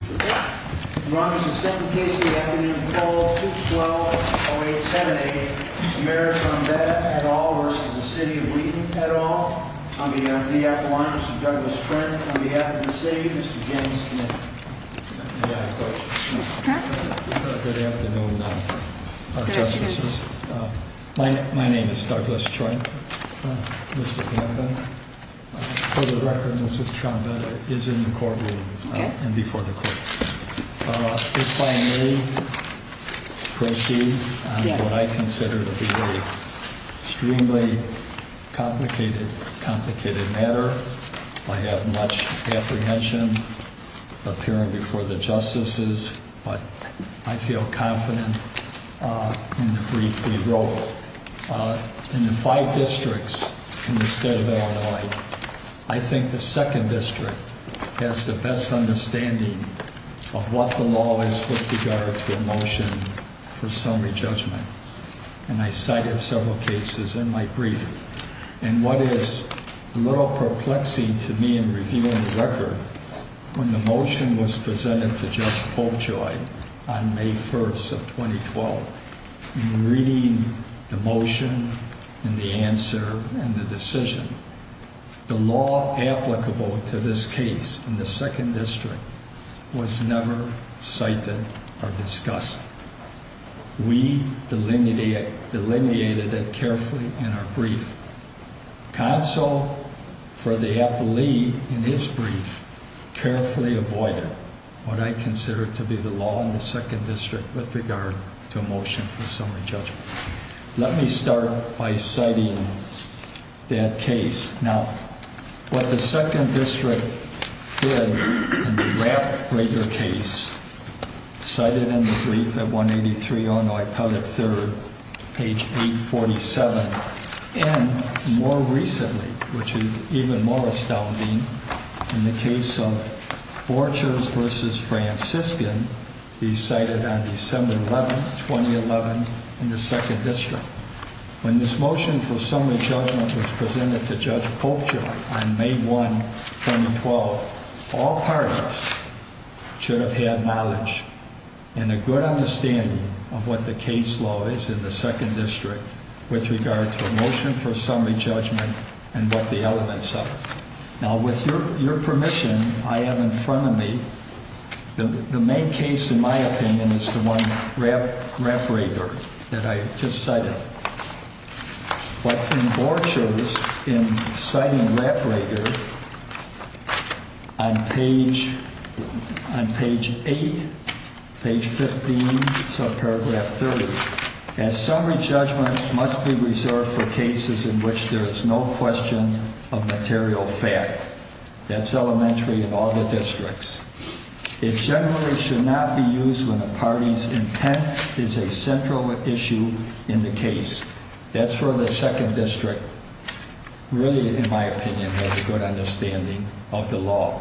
Douglas Trent v. The City of Wheaton If I may proceed on what I consider to be an extremely complicated matter. I have much apprehension appearing before the justices, but I feel confident in the brief we wrote. In the five districts in the state of Illinois, I think the second district has the best understanding of what the law is with regard to a motion for summary judgment. And I cited several cases in my brief. And what is a little perplexing to me in reviewing the record, when the motion was presented to Judge Poljoy on May 1st of 2012, in reading the motion and the answer and the decision, the law applicable to this case in the second district was never cited or discussed. We delineated it carefully in our brief. Counsel for the appellee in his brief carefully avoided what I consider to be the law in the second district with regard to a motion for summary judgment. Let me start by citing that case. Now, what the second district did in the Wrap Breaker case, cited in the brief at 183 Illinois Appellate 3rd, page 847, and more recently, which is even more astounding, in the case of Borchers v. Franciscan, be cited on December 11, 2011, in the second district. When this motion for summary judgment was presented to Judge Poljoy on May 1, 2012, all parties should have had knowledge and a good understanding of what the case law is in the second district with regard to a motion for summary judgment and what the elements of it. Now, with your permission, I have in front of me the main case, in my opinion, is the one Wrap Breaker that I just cited. But in Borchers, in citing Wrap Breaker on page 8, page 15, subparagraph 30, as summary judgment must be reserved for cases in which there is no question of material fact. That's elementary in all the districts. It generally should not be used when a party's intent is a central issue in the case. That's where the second district really, in my opinion, has a good understanding of the law.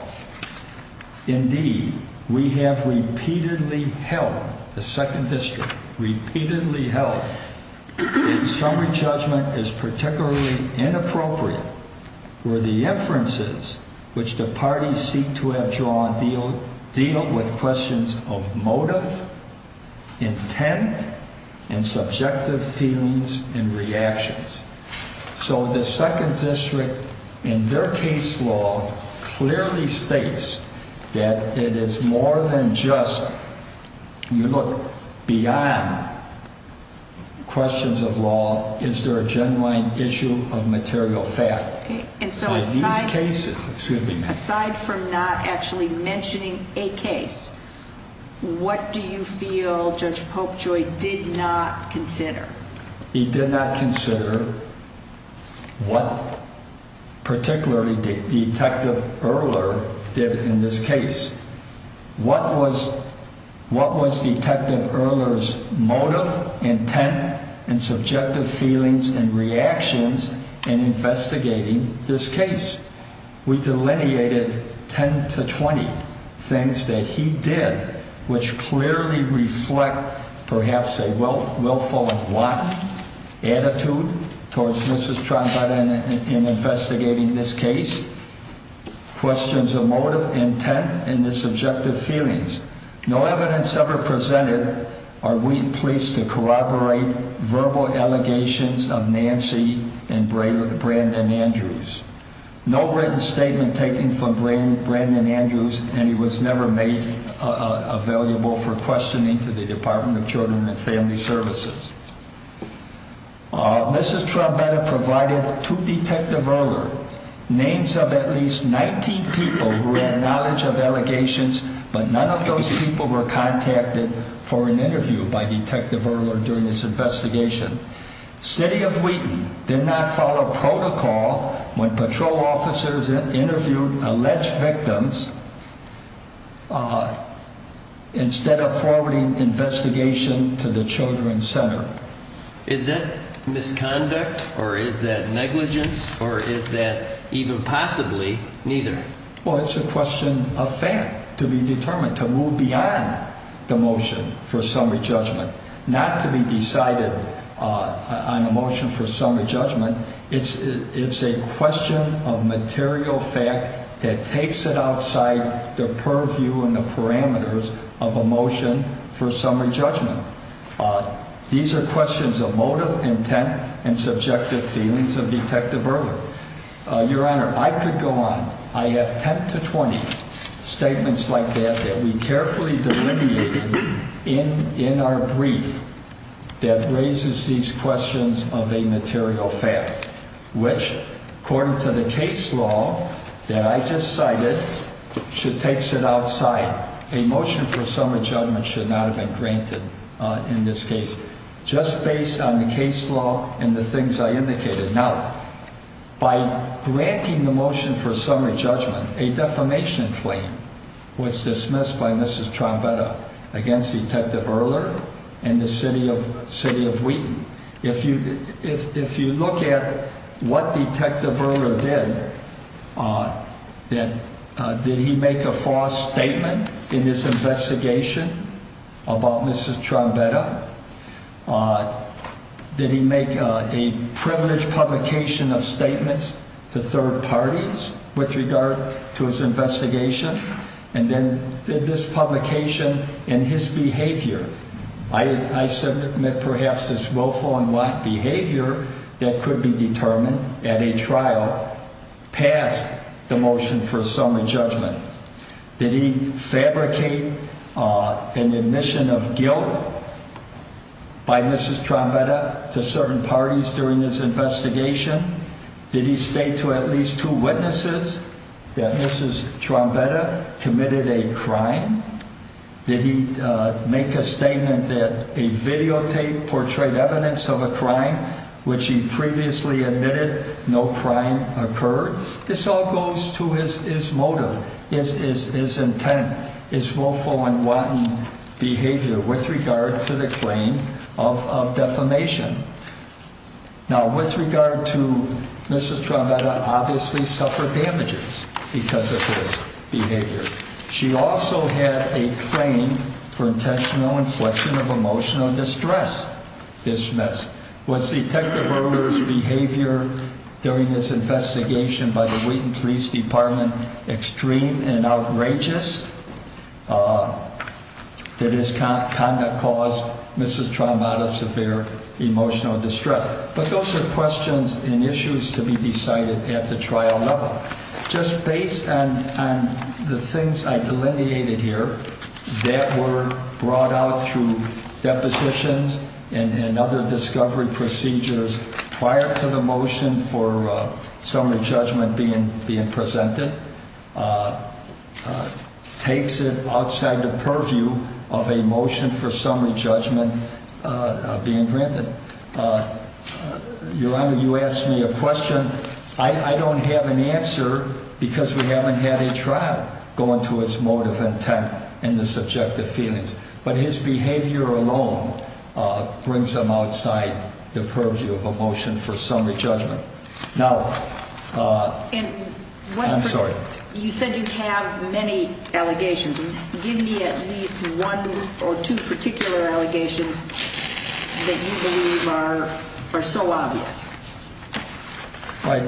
So the second district, in their case law, clearly states that it is more than just, you know, beyond questions of law, is there a genuine issue of material fact. And so aside from not actually mentioning a case, what do you feel Judge Poljoy did not consider? He did not consider what particularly Detective Erler did in this case. What was what was Detective Erler's motive, intent, and subjective feelings and reactions in investigating this case? We delineated 10 to 20 things that he did, which clearly reflect perhaps a willful and blunt attitude towards Mrs. Trombetta in investigating this case. Questions of motive, intent, and the subjective feelings. No evidence ever presented. Are we pleased to corroborate verbal allegations of Nancy and Brandon Andrews? No written statement taken from Brandon Andrews, and he was never made available for questioning to the Department of Children and Family Services. Mrs. Trombetta provided to Detective Erler names of at least 19 people who had knowledge of allegations, but none of those people were contacted for an interview by Detective Erler during this investigation. City of Wheaton did not follow protocol when patrol officers interviewed alleged victims instead of forwarding investigation to the Children's Center. Is that misconduct, or is that negligence, or is that even possibly neither? Well, it's a question of fact to be determined, to move beyond the motion for summary judgment, not to be decided on a motion for summary judgment. It's a question of material fact that takes it outside the purview and the parameters of a motion for summary judgment. These are questions of motive, intent, and subjective feelings of Detective Erler. Your Honor, I could go on. I have 10 to 20 statements like that that we carefully delineated in our brief that raises these questions of a material fact, which, according to the case law that I just cited, takes it outside. A motion for summary judgment should not have been granted in this case, just based on the case law and the things I indicated. Now, by granting the motion for summary judgment, a defamation claim was dismissed by Mrs. Trombetta against Detective Erler and the City of Wheaton. If you look at what Detective Erler did, did he make a false statement in his investigation about Mrs. Trombetta? Did he make a privileged publication of statements to third parties with regard to his investigation? And then, did this publication and his behavior, I submit perhaps this willful and wise behavior that could be determined at a trial, pass the motion for summary judgment? Did he fabricate an admission of guilt by Mrs. Trombetta to certain parties during his investigation? Did he state to at least two witnesses that Mrs. Trombetta committed a crime? Did he make a statement that a videotape portrayed evidence of a crime which he previously admitted no crime occurred? This all goes to his motive, his intent, his willful and wanton behavior with regard to the claim of defamation. Now, with regard to Mrs. Trombetta, obviously suffered damages because of his behavior. She also had a claim for intentional inflection of emotional distress dismissed. Was Detective Erler's behavior during his investigation by the Wheaton Police Department extreme and outrageous? Did his conduct cause Mrs. Trombetta severe emotional distress? But those are questions and issues to be decided at the trial level. Just based on the things I delineated here that were brought out through depositions and other discovery procedures prior to the motion for summary judgment being presented takes it outside the purview of a motion for summary judgment being granted. Your Honor, you asked me a question. I don't have an answer because we haven't had a trial going to its motive, intent and the subjective feelings. But his behavior alone brings them outside the purview of a motion for summary judgment. Now, I'm sorry. You said you have many allegations. Give me at least one or two particular allegations that you believe are so obvious. Right.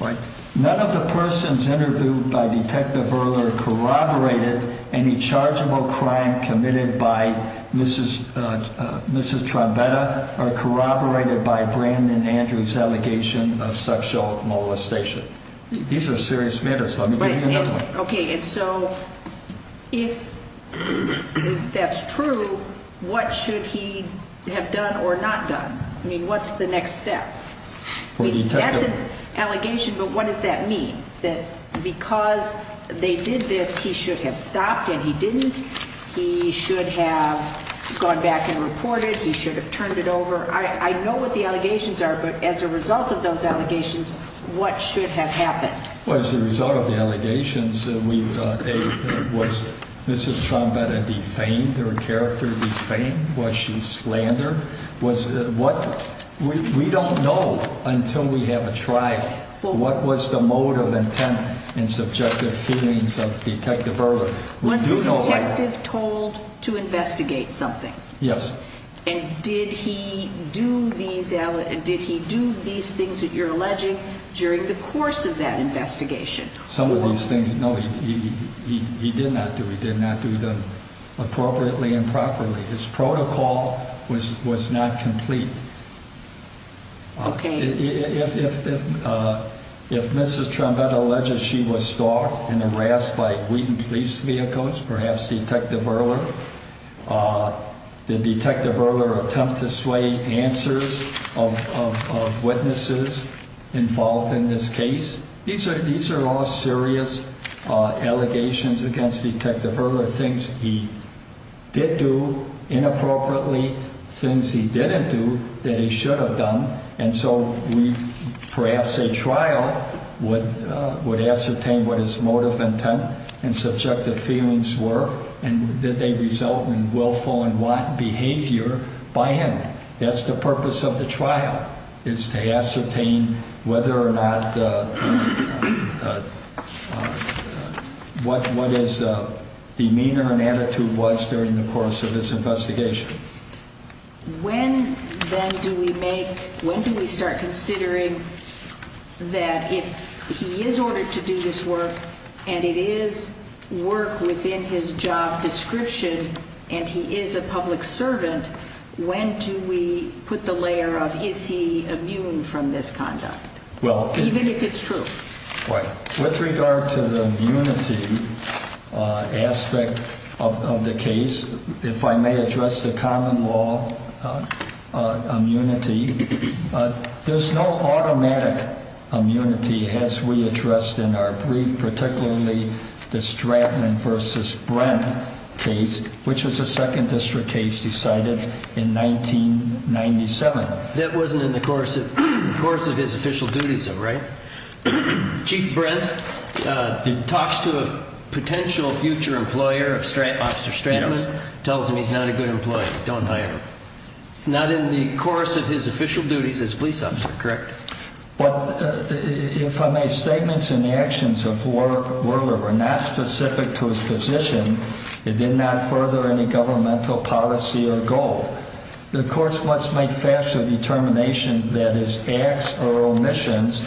Right. None of the persons interviewed by Detective Erler corroborated any chargeable crime committed by Mrs. Mrs. Trombetta or corroborated by Brandon Andrews' allegation of sexual molestation. These are serious matters. OK. And so if that's true, what should he have done or not done? I mean, what's the next step? That's an allegation. But what does that mean? That because they did this, he should have stopped and he didn't. He should have gone back and reported. He should have turned it over. I know what the allegations are. But as a result of those allegations, what should have happened? Well, as a result of the allegations, we was Mrs. Trombetta defamed? Her character defamed? Was she slandered? Was what? We don't know until we have a trial. What was the motive, intent and subjective feelings of Detective Erler? Was the detective told to investigate something? Yes. And did he do these and did he do these things that you're alleging during the course of that investigation? Some of these things. No, he did not do. He did not do them appropriately and properly. His protocol was was not complete. OK, if if if if Mrs. Trombetta alleges she was stalked and harassed by Wheaton police vehicles, perhaps Detective Erler, did Detective Erler attempt to sway answers of witnesses involved in this case? These are these are all serious allegations against Detective Erler. Things he did do inappropriately, things he didn't do that he should have done. And so we perhaps a trial would would ascertain what his motive, intent and subjective feelings were and that they result in willful and want behavior by him. That's the purpose of the trial is to ascertain whether or not what what is demeanor and attitude was during the course of this investigation. When then do we make when do we start considering that if he is ordered to do this work and it is work within his job description and he is a public servant, when do we put the layer of is he immune from this conduct? Well, even if it's true with regard to the unity aspect of the case, if I may address the common law immunity, there's no automatic immunity as we addressed in our brief, particularly the Stratton versus Brent case, which was a second district case decided in 1997. That wasn't in the course of course of his official duties. Right. Chief Brent talks to a potential future employer of officer Stratton tells him he's not a good employee. Don't hire him. It's not in the course of his official duties as police officer. Correct. But if I made statements in the actions of Werler were not specific to his position, it did not further any governmental policy or goal. The courts must make factual determinations that his acts or omissions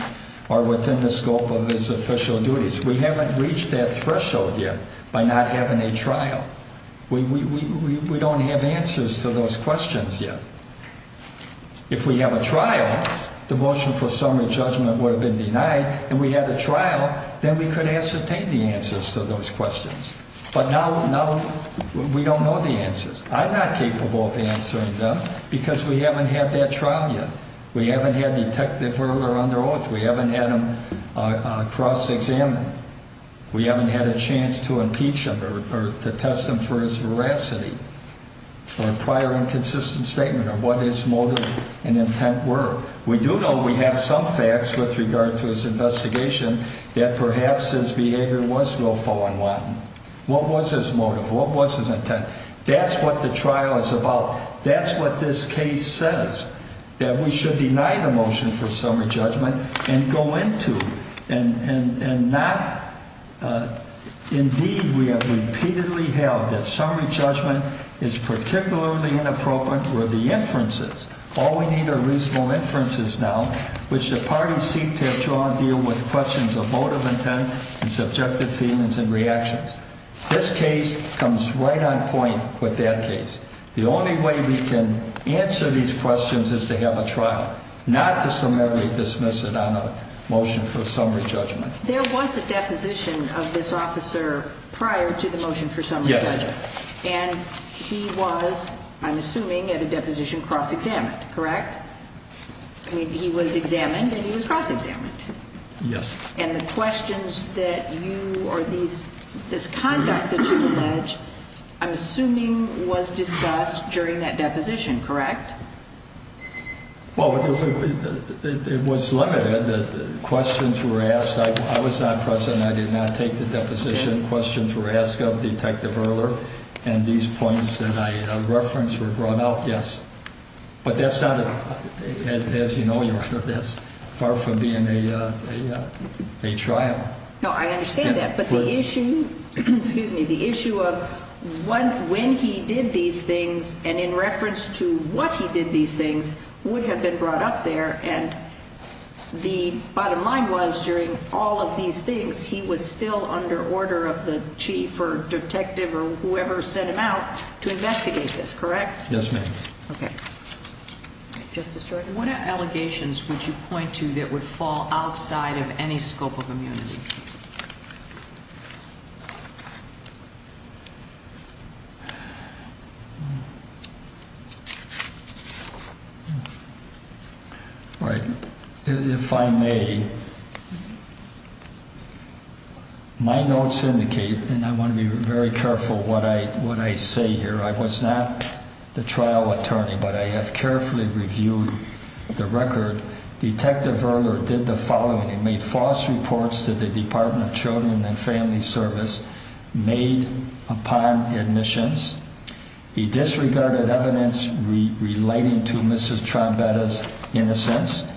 are within the scope of his official duties. We haven't reached that threshold yet by not having a trial. We don't have answers to those questions yet. If we have a trial, the motion for summary judgment would have been denied and we had a trial. Then we could ascertain the answers to those questions. But now we don't know the answers. I'm not capable of answering them because we haven't had that trial yet. We haven't had detective Werler under oath. We haven't had him cross examined. We haven't had a chance to impeach him or to test him for his veracity or a prior inconsistent statement of what his motive and intent were. We do know we have some facts with regard to his investigation that perhaps his behavior was willful and wanton. What was his motive? What was his intent? That's what the trial is about. That's what this case says, that we should deny the motion for summary judgment and go into. Indeed, we have repeatedly held that summary judgment is particularly inappropriate for the inferences. All we need are reasonable inferences now, which the parties seek to draw and deal with questions of motive, intent, and subjective feelings and reactions. This case comes right on point with that case. The only way we can answer these questions is to have a trial, not to submit or dismiss it on a motion for summary judgment. There was a deposition of this officer prior to the motion for summary judgment, and he was, I'm assuming, at a deposition cross examined, correct? I mean, he was examined and he was cross examined. Yes. And the questions that you or these, this conduct that you allege, I'm assuming was discussed during that deposition, correct? Well, it was limited. The questions were asked. I was not present. I did not take the deposition. Questions were asked of Detective Erler, and these points that I referenced were brought out. Yes. But that's not, as you know, that's far from being a trial. No, I understand that, but the issue, excuse me, the issue of when he did these things and in reference to what he did these things would have been brought up there, and the bottom line was during all of these things, he was still under order of the chief or detective or whoever sent him out to investigate this, correct? Yes, ma'am. Okay. Justice Jordan, what allegations would you point to that would fall outside of any scope of immunity? All right. If I may, my notes indicate, and I want to be very careful what I say here, I was not the trial attorney, but I have carefully reviewed the record. Detective Erler did the following. He made false reports to the Department of Children and Family Service made upon admissions. He disregarded evidence relating to Mrs. Trombetta's innocence,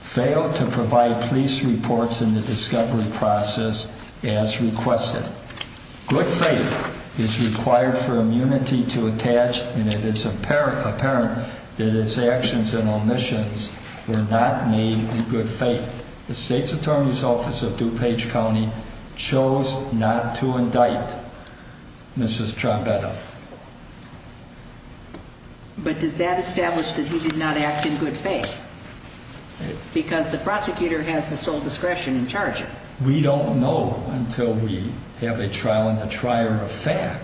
failed to provide police reports in the discovery process as requested. Good faith is required for immunity to attach, and it is apparent that his actions and omissions were not made in good faith. The state's attorney's office of DuPage County chose not to indict Mrs. Trombetta. But does that establish that he did not act in good faith? Because the prosecutor has the sole discretion in charging. We don't know until we have a trial and a trier of fact.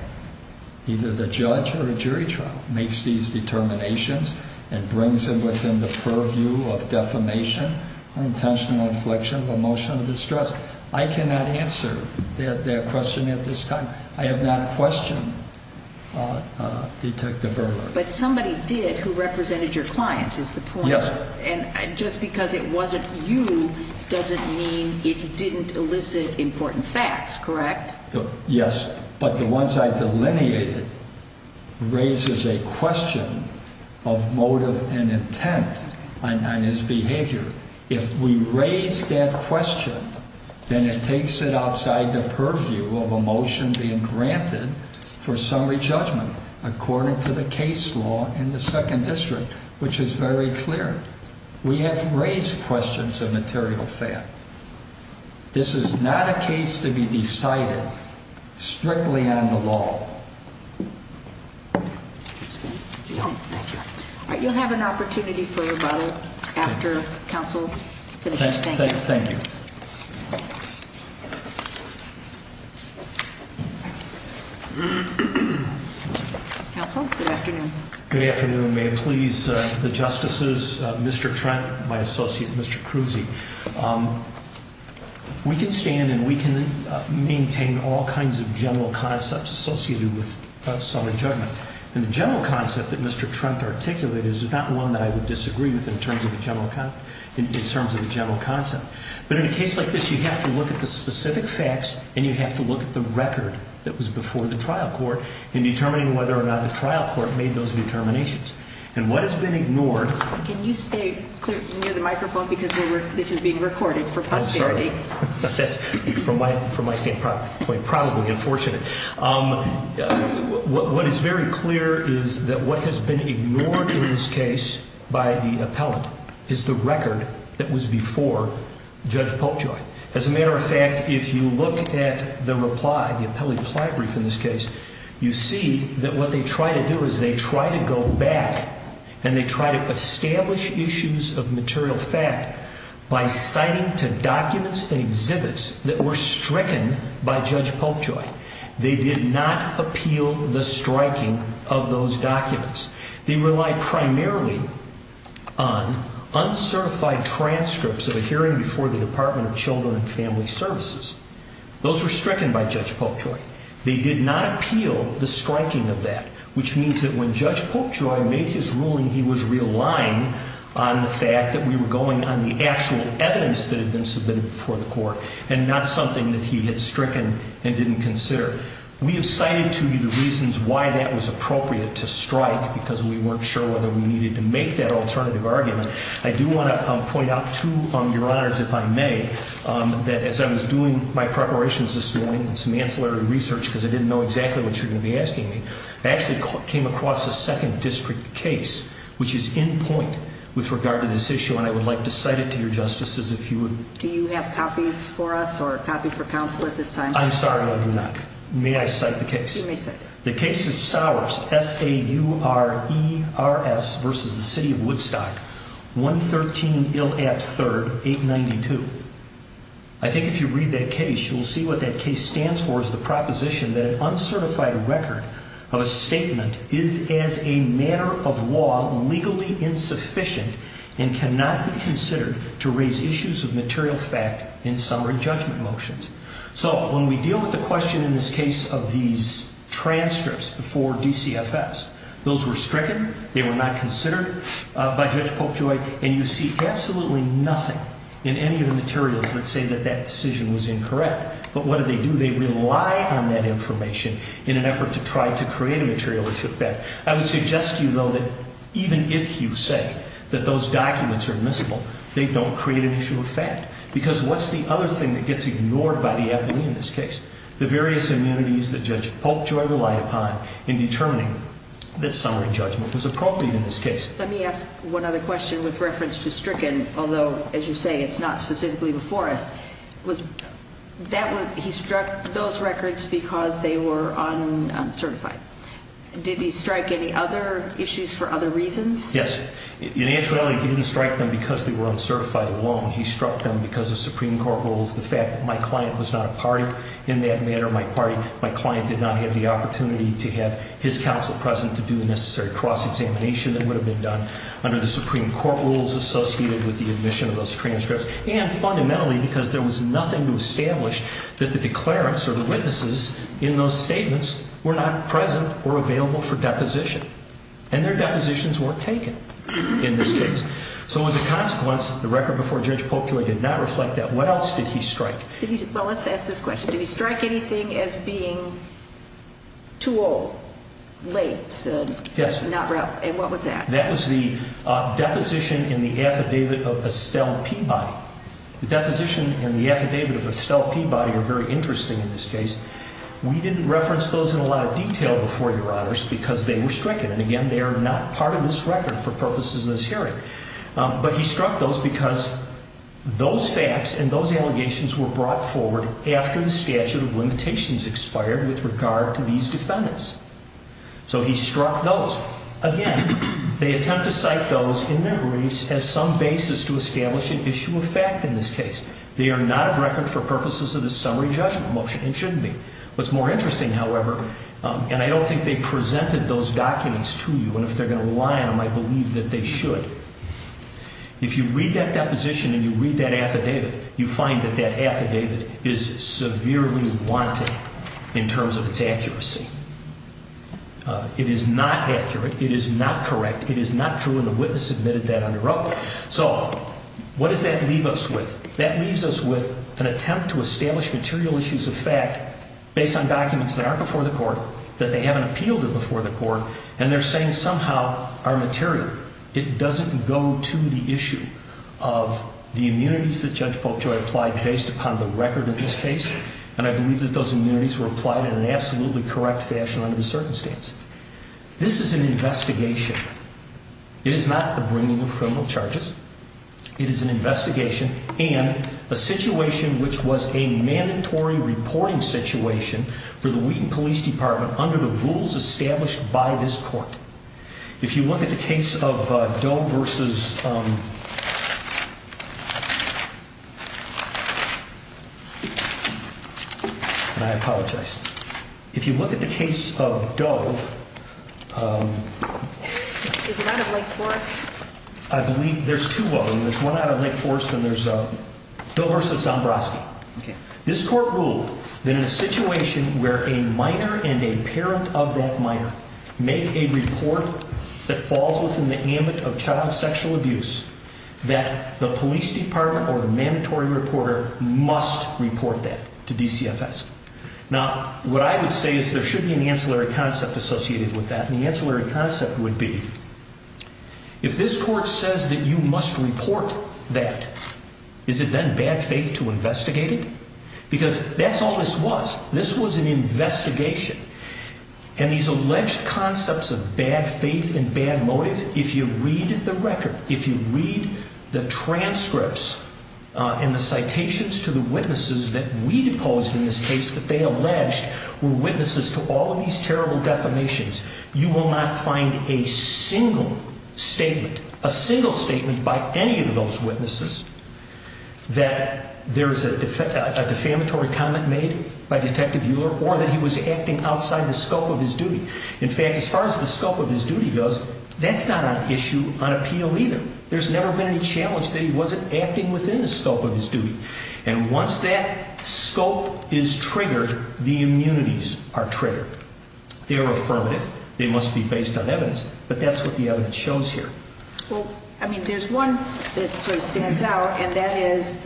Either the judge or the jury trial makes these determinations and brings them within the purview of defamation or intentional infliction of emotional distress. I cannot answer that question at this time. I have not questioned Detective Erler. But somebody did who represented your client is the point. And just because it wasn't you doesn't mean it didn't elicit important facts, correct? Yes, but the ones I've delineated raises a question of motive and intent on his behavior. If we raise that question, then it takes it outside the purview of emotion being granted for summary judgment, according to the case law in the 2nd District, which is very clear. We have raised questions of material fact. This is not a case to be decided strictly on the law. You'll have an opportunity for your bottle after counsel. Thank you. Counsel, good afternoon. Good afternoon. May it please the Justices, Mr. Trent, my associate, Mr. Kruze. We can stand and we can maintain all kinds of general concepts associated with summary judgment. And the general concept that Mr. Trent articulated is not one that I would disagree with in terms of the general concept. But in a case like this, you have to look at the specific facts and you have to look at the record that was before the trial court in determining whether or not the trial court made those determinations. And what has been ignored... Can you stay near the microphone because this is being recorded for posterity. That's from my standpoint, probably unfortunate. What is very clear is that what has been ignored in this case by the appellant is the record that was before Judge Polkjoy. As a matter of fact, if you look at the reply, the appellate reply brief in this case, you see that what they try to do is they try to go back and they try to establish issues of material fact by citing to documents and exhibits that were stricken by Judge Polkjoy. They did not appeal the striking of those documents. They relied primarily on uncertified transcripts of a hearing before the Department of Children and Family Services. Those were stricken by Judge Polkjoy. They did not appeal the striking of that, which means that when Judge Polkjoy made his ruling, he was relying on the fact that we were going on the actual evidence that had been submitted before the court and not something that he had stricken and didn't consider. We have cited to you the reasons why that was appropriate to strike because we weren't sure whether we needed to make that alternative argument. I do want to point out to your honors, if I may, that as I was doing my preparations this morning and some ancillary research because I didn't know exactly what you were going to be asking me, I actually came across a second district case which is in point with regard to this issue and I would like to cite it to your justices if you would. Do you have copies for us or a copy for counsel at this time? I'm sorry, I do not. May I cite the case? You may cite it. The case is Saurerst versus the City of Woodstock, 113 Illapp 3rd, 892. I think if you read that case, you'll see what that case stands for is the proposition that an uncertified record of a statement is as a matter of law legally insufficient and cannot be considered to raise issues of material fact in summary judgment motions. When we deal with the question in this case of these transcripts before DCFS, those were stricken, they were not considered by Judge Popejoy and you see absolutely nothing in any of the materials that say that that decision was incorrect. But what do they do? They rely on that information in an effort to try to create a material issue of fact. I would suggest to you though that even if you say that those documents are admissible, they don't create an issue of fact. Because what's the other thing that gets ignored by the abbey in this case? The various immunities that Judge Popejoy relied upon in determining that summary judgment was appropriate in this case. Let me ask one other question with reference to stricken, although as you say it's not specifically before us. He struck those records because they were uncertified. Did he strike any other issues for other reasons? Yes. Naturally he didn't strike them because they were uncertified alone. He struck them because of Supreme Court rules. The fact that my client was not a party in that matter, my client did not have the opportunity to have his counsel present to do the necessary cross-examination that would have been done under the Supreme Court rules associated with the admission of those transcripts. And fundamentally because there was nothing to establish that the declarants or the witnesses in those statements were not present or available for deposition. And their depositions weren't taken in this case. So as a consequence, the record before Judge Popejoy did not reflect that. What else did he strike? Well, let's ask this question. Did he strike anything as being too old, late? And what was that? That was the deposition in the affidavit of Estelle Peabody. The deposition in the affidavit of Estelle Peabody are very interesting in this case. We didn't reference those in a lot of detail before your honors because they were stricken. And again, they are not part of this record for purposes of this hearing. But he struck those because those facts and those allegations were brought forward after the statute of limitations expired with regard to these defendants. So he struck those. Again, they attempt to cite those in memories as some basis to establish an issue of fact in this case. They are not a record for purposes of the summary judgment motion and shouldn't be. What's more interesting, however, and I don't think they presented those documents to you, and if they're going to rely on them, I believe that they should. If you read that deposition and you read that affidavit, you find that that affidavit is severely wanted in terms of its accuracy. It is not accurate. It is not correct. It is not true, and the witness admitted that under oath. So what does that leave us with? That leaves us with an attempt to establish material issues of fact based on documents that aren't before the court, that they haven't appealed to before the court, and they're saying somehow are material. It doesn't go to the issue of the immunities that Judge Popejoy applied based upon the record in this case. And I believe that those immunities were applied in an absolutely correct fashion under the circumstances. This is an investigation. It is not the bringing of criminal charges. It is an investigation and a situation which was a mandatory reporting situation for the Wheaton Police Department under the rules established by this court. If you look at the case of Doe versus. And I apologize. If you look at the case of Doe. Is it out of Lake Forest? I believe there's two of them. There's one out of Lake Forest and there's Doe versus Dombroski. This court ruled that in a situation where a minor and a parent of that minor make a report that falls within the ambit of child sexual abuse, that the police department or the mandatory reporter must report that to DCFS. Now, what I would say is there should be an ancillary concept associated with that. And the ancillary concept would be if this court says that you must report that, is it then bad faith to investigate it? Because that's all this was. This was an investigation. And these alleged concepts of bad faith and bad motive, if you read the record, if you read the transcripts and the citations to the witnesses that we deposed in this case that they alleged were witnesses to all of these terrible defamations, you will not find a single statement, a single statement by any of those witnesses that there is a defamatory comment made by Detective Euler or that he was acting outside the scope of his duty. In fact, as far as the scope of his duty goes, that's not an issue on appeal either. There's never been any challenge that he wasn't acting within the scope of his duty. And once that scope is triggered, the immunities are triggered. They're affirmative. They must be based on evidence. But that's what the evidence shows here. Well, I mean, there's one that sort of stands out, and that is,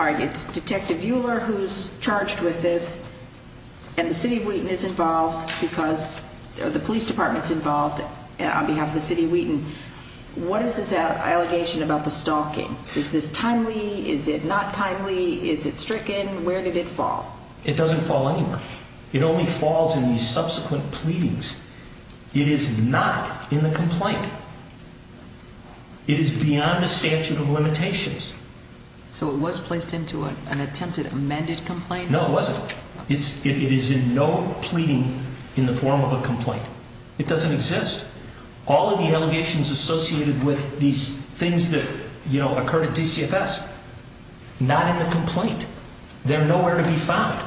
all right, it's Detective Euler who's charged with this, and the City of Wheaton is involved because the police department's involved on behalf of the City of Wheaton. What is this allegation about the stalking? Is this timely? Is it not timely? Is it stricken? Where did it fall? It doesn't fall anywhere. It only falls in the subsequent pleadings. It is not in the complaint. It is beyond the statute of limitations. So it was placed into an attempted amended complaint? No, it wasn't. It is in no pleading in the form of a complaint. It doesn't exist. All of the allegations associated with these things that, you know, occurred at DCFS, not in the complaint. They're nowhere to be found.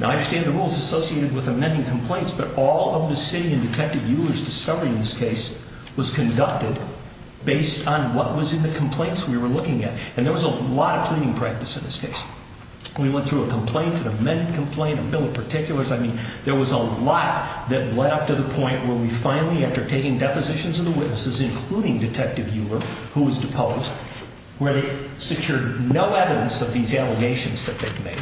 Now, I understand the rules associated with amending complaints, but all of the City and Detective Euler's discovery in this case was conducted based on what was in the complaints we were looking at. And there was a lot of pleading practice in this case. We went through a complaint, an amended complaint, a bill of particulars. I mean, there was a lot that led up to the point where we finally, after taking depositions of the witnesses, including Detective Euler, who was deposed, where they secured no evidence of these allegations that they've made.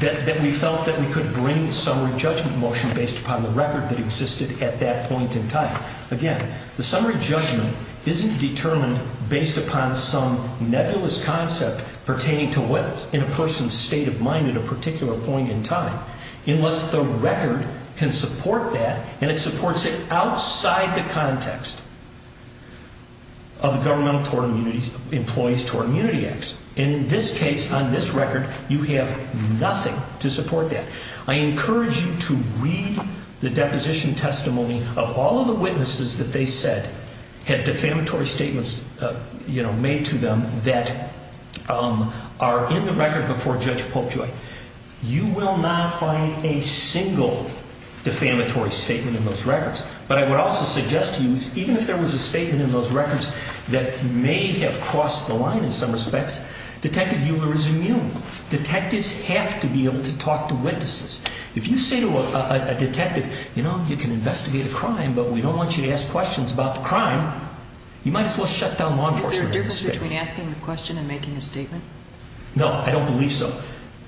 That we felt that we could bring a summary judgment motion based upon the record that existed at that point in time. Now, again, the summary judgment isn't determined based upon some nebulous concept pertaining to what is in a person's state of mind at a particular point in time. Unless the record can support that, and it supports it outside the context of the Governmental Employees Toward Immunity Act. And in this case, on this record, you have nothing to support that. I encourage you to read the deposition testimony of all of the witnesses that they said had defamatory statements made to them that are in the record before Judge Polkjoy. You will not find a single defamatory statement in those records. But I would also suggest to you, even if there was a statement in those records that may have crossed the line in some respects, Detective Euler is immune. Detectives have to be able to talk to witnesses. If you say to a detective, you know, you can investigate a crime, but we don't want you to ask questions about the crime, you might as well shut down law enforcement. Is there a difference between asking the question and making a statement? No, I don't believe so.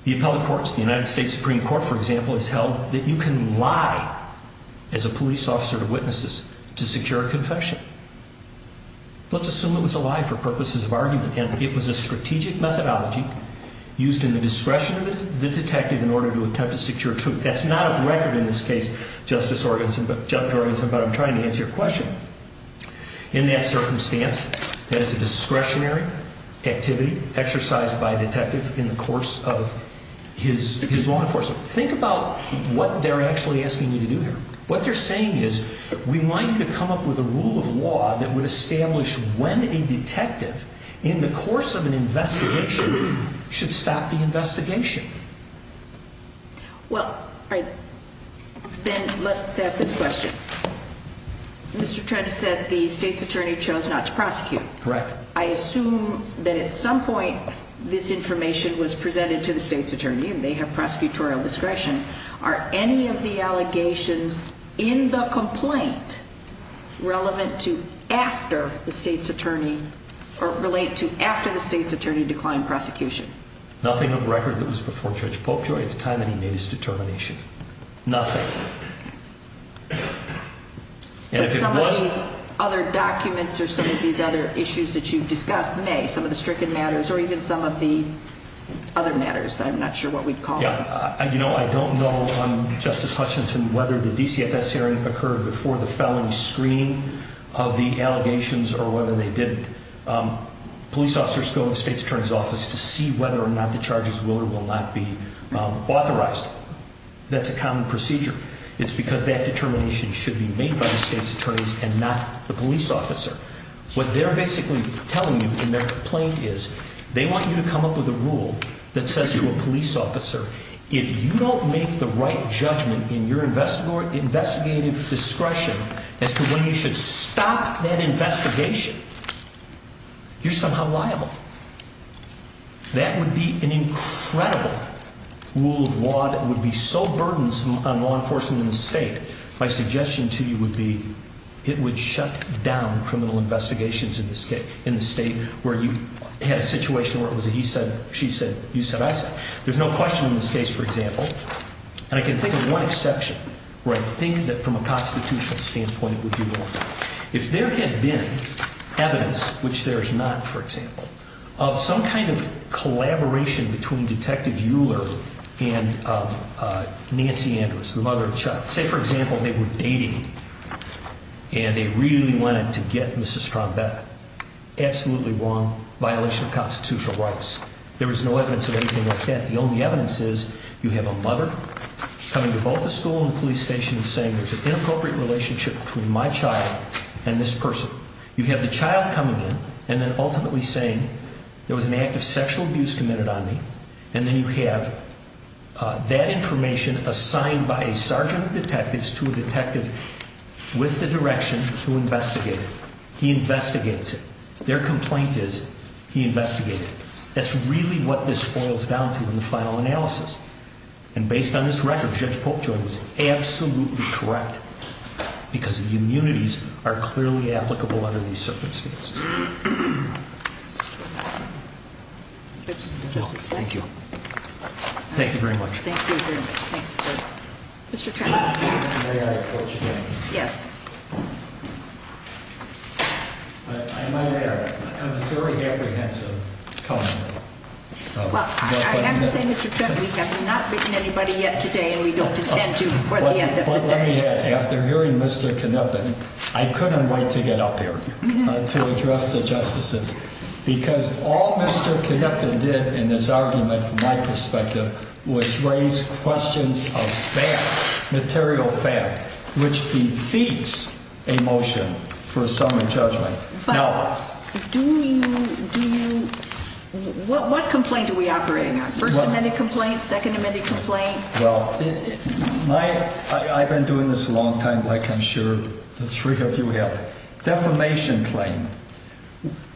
The appellate courts, the United States Supreme Court, for example, has held that you can lie as a police officer to witnesses to secure a confession. Let's assume it was a lie for purposes of argument, and it was a strategic methodology used in the discretion of the detective in order to attempt to secure truth. That's not a record in this case, Justice Jorgensen, but I'm trying to answer your question. In that circumstance, that is a discretionary activity exercised by a detective in the course of his law enforcement. Think about what they're actually asking you to do here. What they're saying is, we want you to come up with a rule of law that would establish when a detective, in the course of an investigation, should stop the investigation. Well, then let's ask this question. Mr. Trent said the state's attorney chose not to prosecute. I assume that at some point, this information was presented to the state's attorney, and they have prosecutorial discretion. Are any of the allegations in the complaint relevant to after the state's attorney, or relate to after the state's attorney declined prosecution? Nothing of record that was before Judge Popejoy at the time that he made his determination. Nothing. But some of these other documents or some of these other issues that you've discussed, may, some of the stricken matters, or even some of the other matters, I'm not sure what we'd call them. Yeah, you know, I don't know, Justice Hutchinson, whether the DCFS hearing occurred before the felony screening of the allegations, or whether they didn't. Police officers go in the state's attorney's office to see whether or not the charges will or will not be authorized. That's a common procedure. It's because that determination should be made by the state's attorneys and not the police officer. What they're basically telling you in their complaint is, they want you to come up with a rule that says to a police officer, if you don't make the right judgment in your investigative discretion as to when you should stop that investigation, you're somehow liable. That would be an incredible rule of law that would be so burdensome on law enforcement in the state. My suggestion to you would be, it would shut down criminal investigations in the state where you had a situation where it was a he said, she said, you said, I said. There's no question in this case, for example, and I can think of one exception where I think that from a constitutional standpoint, it would be one. If there had been evidence, which there's not, for example, of some kind of collaboration between Detective Euler and Nancy Andrews, the mother of Chuck. Say, for example, they were dating and they really wanted to get Mrs. Trombetta. Absolutely wrong. Violation of constitutional rights. There is no evidence of anything like that. The only evidence is you have a mother coming to both the school and the police station saying there's an inappropriate relationship between my child and this person. You have the child coming in and then ultimately saying there was an act of sexual abuse committed on me. And then you have that information assigned by a sergeant of detectives to a detective with the direction to investigate. He investigates it. Their complaint is, he investigated it. That's really what this boils down to in the final analysis. And based on this record, Judge Polkjoy was absolutely correct because the immunities are clearly applicable under these circumstances. Thank you. Thank you very much. Well, I am going to say, Mr. Tremblay, we have not written anybody yet today and we don't intend to before the end of the day. But let me add, after hearing Mr. Kneppen, I couldn't wait to get up here to address the justices. Because all Mr. Kneppen did in this argument, from my perspective, was raise questions of fact, material fact, which defeats a motion for a summary judgment. But what complaint are we operating on? First Amendment complaint? Second Amendment complaint? Well, I've been doing this a long time, like I'm sure the three of you have. Defamation claim.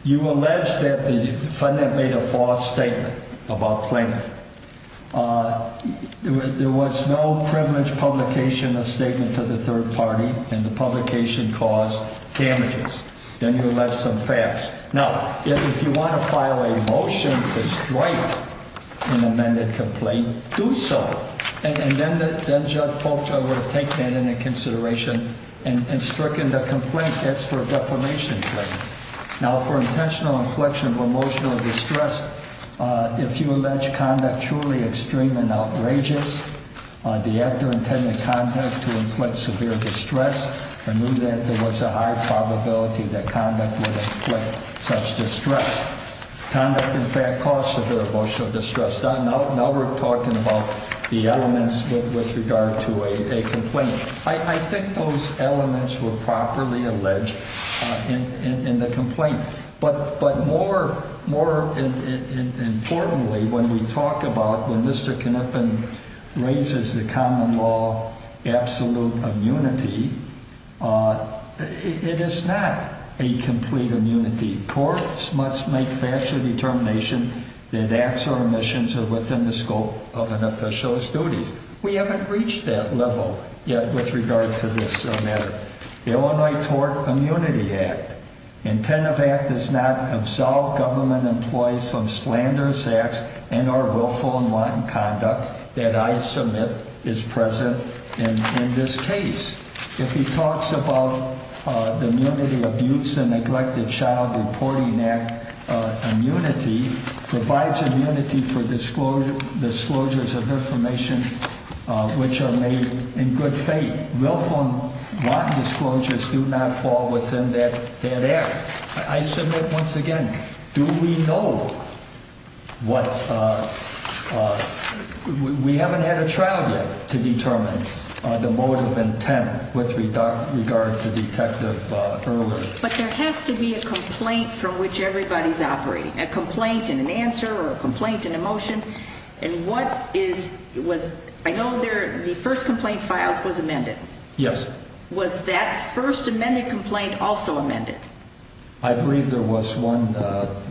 You allege that the defendant made a false statement about plaintiff. There was no privileged publication of statement to the third party and the publication caused damages. And then you left some facts. Now, if you want to file a motion to strike an amended complaint, do so. And then Judge Polkjoy would have taken that into consideration and stricken the complaint. That's for a defamation claim. Now, for intentional inflection of emotional distress, if you allege conduct truly extreme and outrageous, the actor intended conduct to inflict severe distress, I knew that there was a high probability that conduct would inflict such distress. Conduct, in fact, caused severe emotional distress. Now we're talking about the elements with regard to a complaint. I think those elements were properly alleged in the complaint. But more importantly, when we talk about when Mr. Knappen raises the common law absolute immunity, it is not a complete immunity. Courts must make factual determination that acts or omissions are within the scope of an official's duties. We haven't reached that level yet with regard to this matter. The Illinois Tort Immunity Act Intent of Act does not absolve government employees from slanderous acts and are willful and wanton conduct that I submit is present in this case. If he talks about the Immunity Abuse and Neglected Child Reporting Act, immunity provides immunity for disclosure, disclosures of information which are made in good faith. And willful and wanton disclosures do not fall within that area. I submit once again, do we know what, we haven't had a trial yet to determine the motive intent with regard to Detective Earler. But there has to be a complaint from which everybody's operating, a complaint and an answer or a complaint and a motion. And what is, was, I know there, the first complaint filed was amended. Yes. Was that first amended complaint also amended? I believe there was one,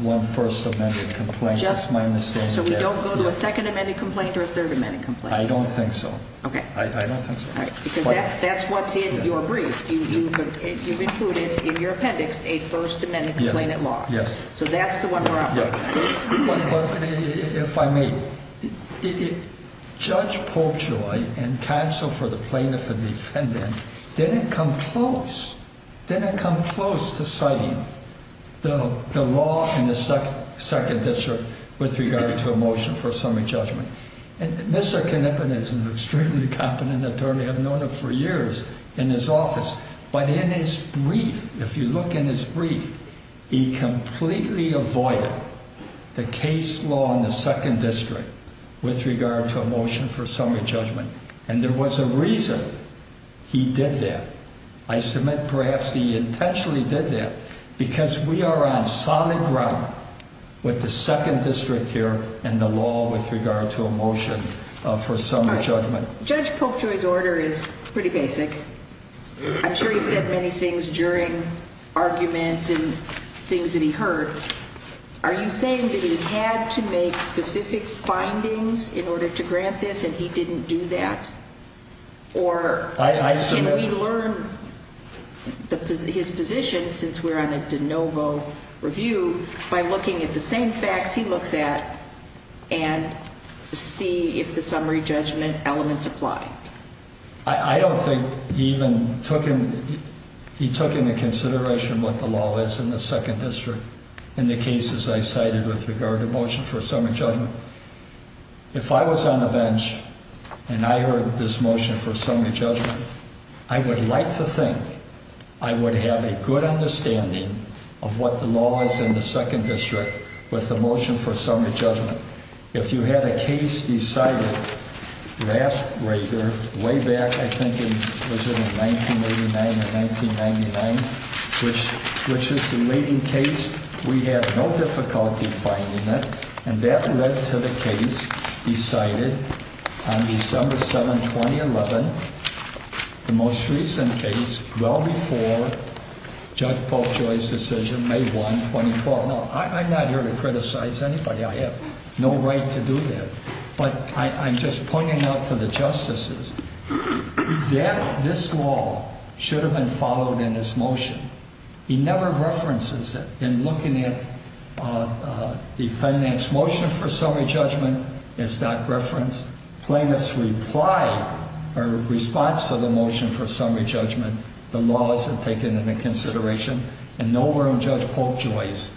one first amended complaint. Just, so we don't go to a second amended complaint or a third amended complaint? I don't think so. Okay. I don't think so. Because that's what's in your brief. You've included in your appendix a first amended complaint at large. Yes. So that's the one we're operating on. If I may, Judge Popejoy and counsel for the plaintiff and defendant didn't come close, didn't come close to citing the law in the second district with regard to a motion for a summary judgment. And Mr. Knippen is an extremely competent attorney. I've known him for years in his office. But in his brief, if you look in his brief, he completely avoided the case law in the second district with regard to a motion for summary judgment. And there was a reason he did that. I submit perhaps he intentionally did that because we are on solid ground with the second district here and the law with regard to a motion for summary judgment. Judge Popejoy's order is pretty basic. I'm sure he said many things during argument and things that he heard. Are you saying that he had to make specific findings in order to grant this and he didn't do that? Or we learn his position since we're on a de novo review by looking at the same facts he looks at and see if the summary judgment elements apply. I don't think he even took him. He took into consideration what the law is in the second district and the cases I cited with regard to motion for a summary judgment. If I was on the bench and I heard this motion for summary judgment, I would like to think I would have a good understanding of what the law is in the second district with the motion for summary judgment. If you had a case decided way back, I think, in 1989 or 1999, which is the leading case, we have no difficulty finding it. And that led to the case decided on December 7, 2011, the most recent case, well before Judge Popejoy's decision, May 1, 2012. I'm not here to criticize anybody. I have no right to do that. But I'm just pointing out to the justices that this law should have been followed in this motion. He never references it. In looking at the finance motion for summary judgment, it's not referenced. Plaintiffs reply or response to the motion for summary judgment. The law isn't taken into consideration. And nowhere on Judge Popejoy's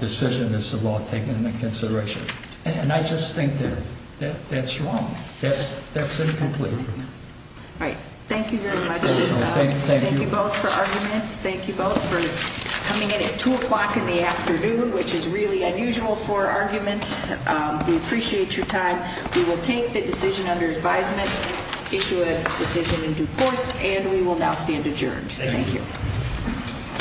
decision is the law taken into consideration. And I just think that that's wrong. That's incomplete. All right. Thank you very much. Thank you both for argument. Thank you both for coming in at 2 o'clock in the afternoon, which is really unusual for argument. We appreciate your time. We will take the decision under advisement, issue a decision in due course, and we will now stand adjourned. Thank you.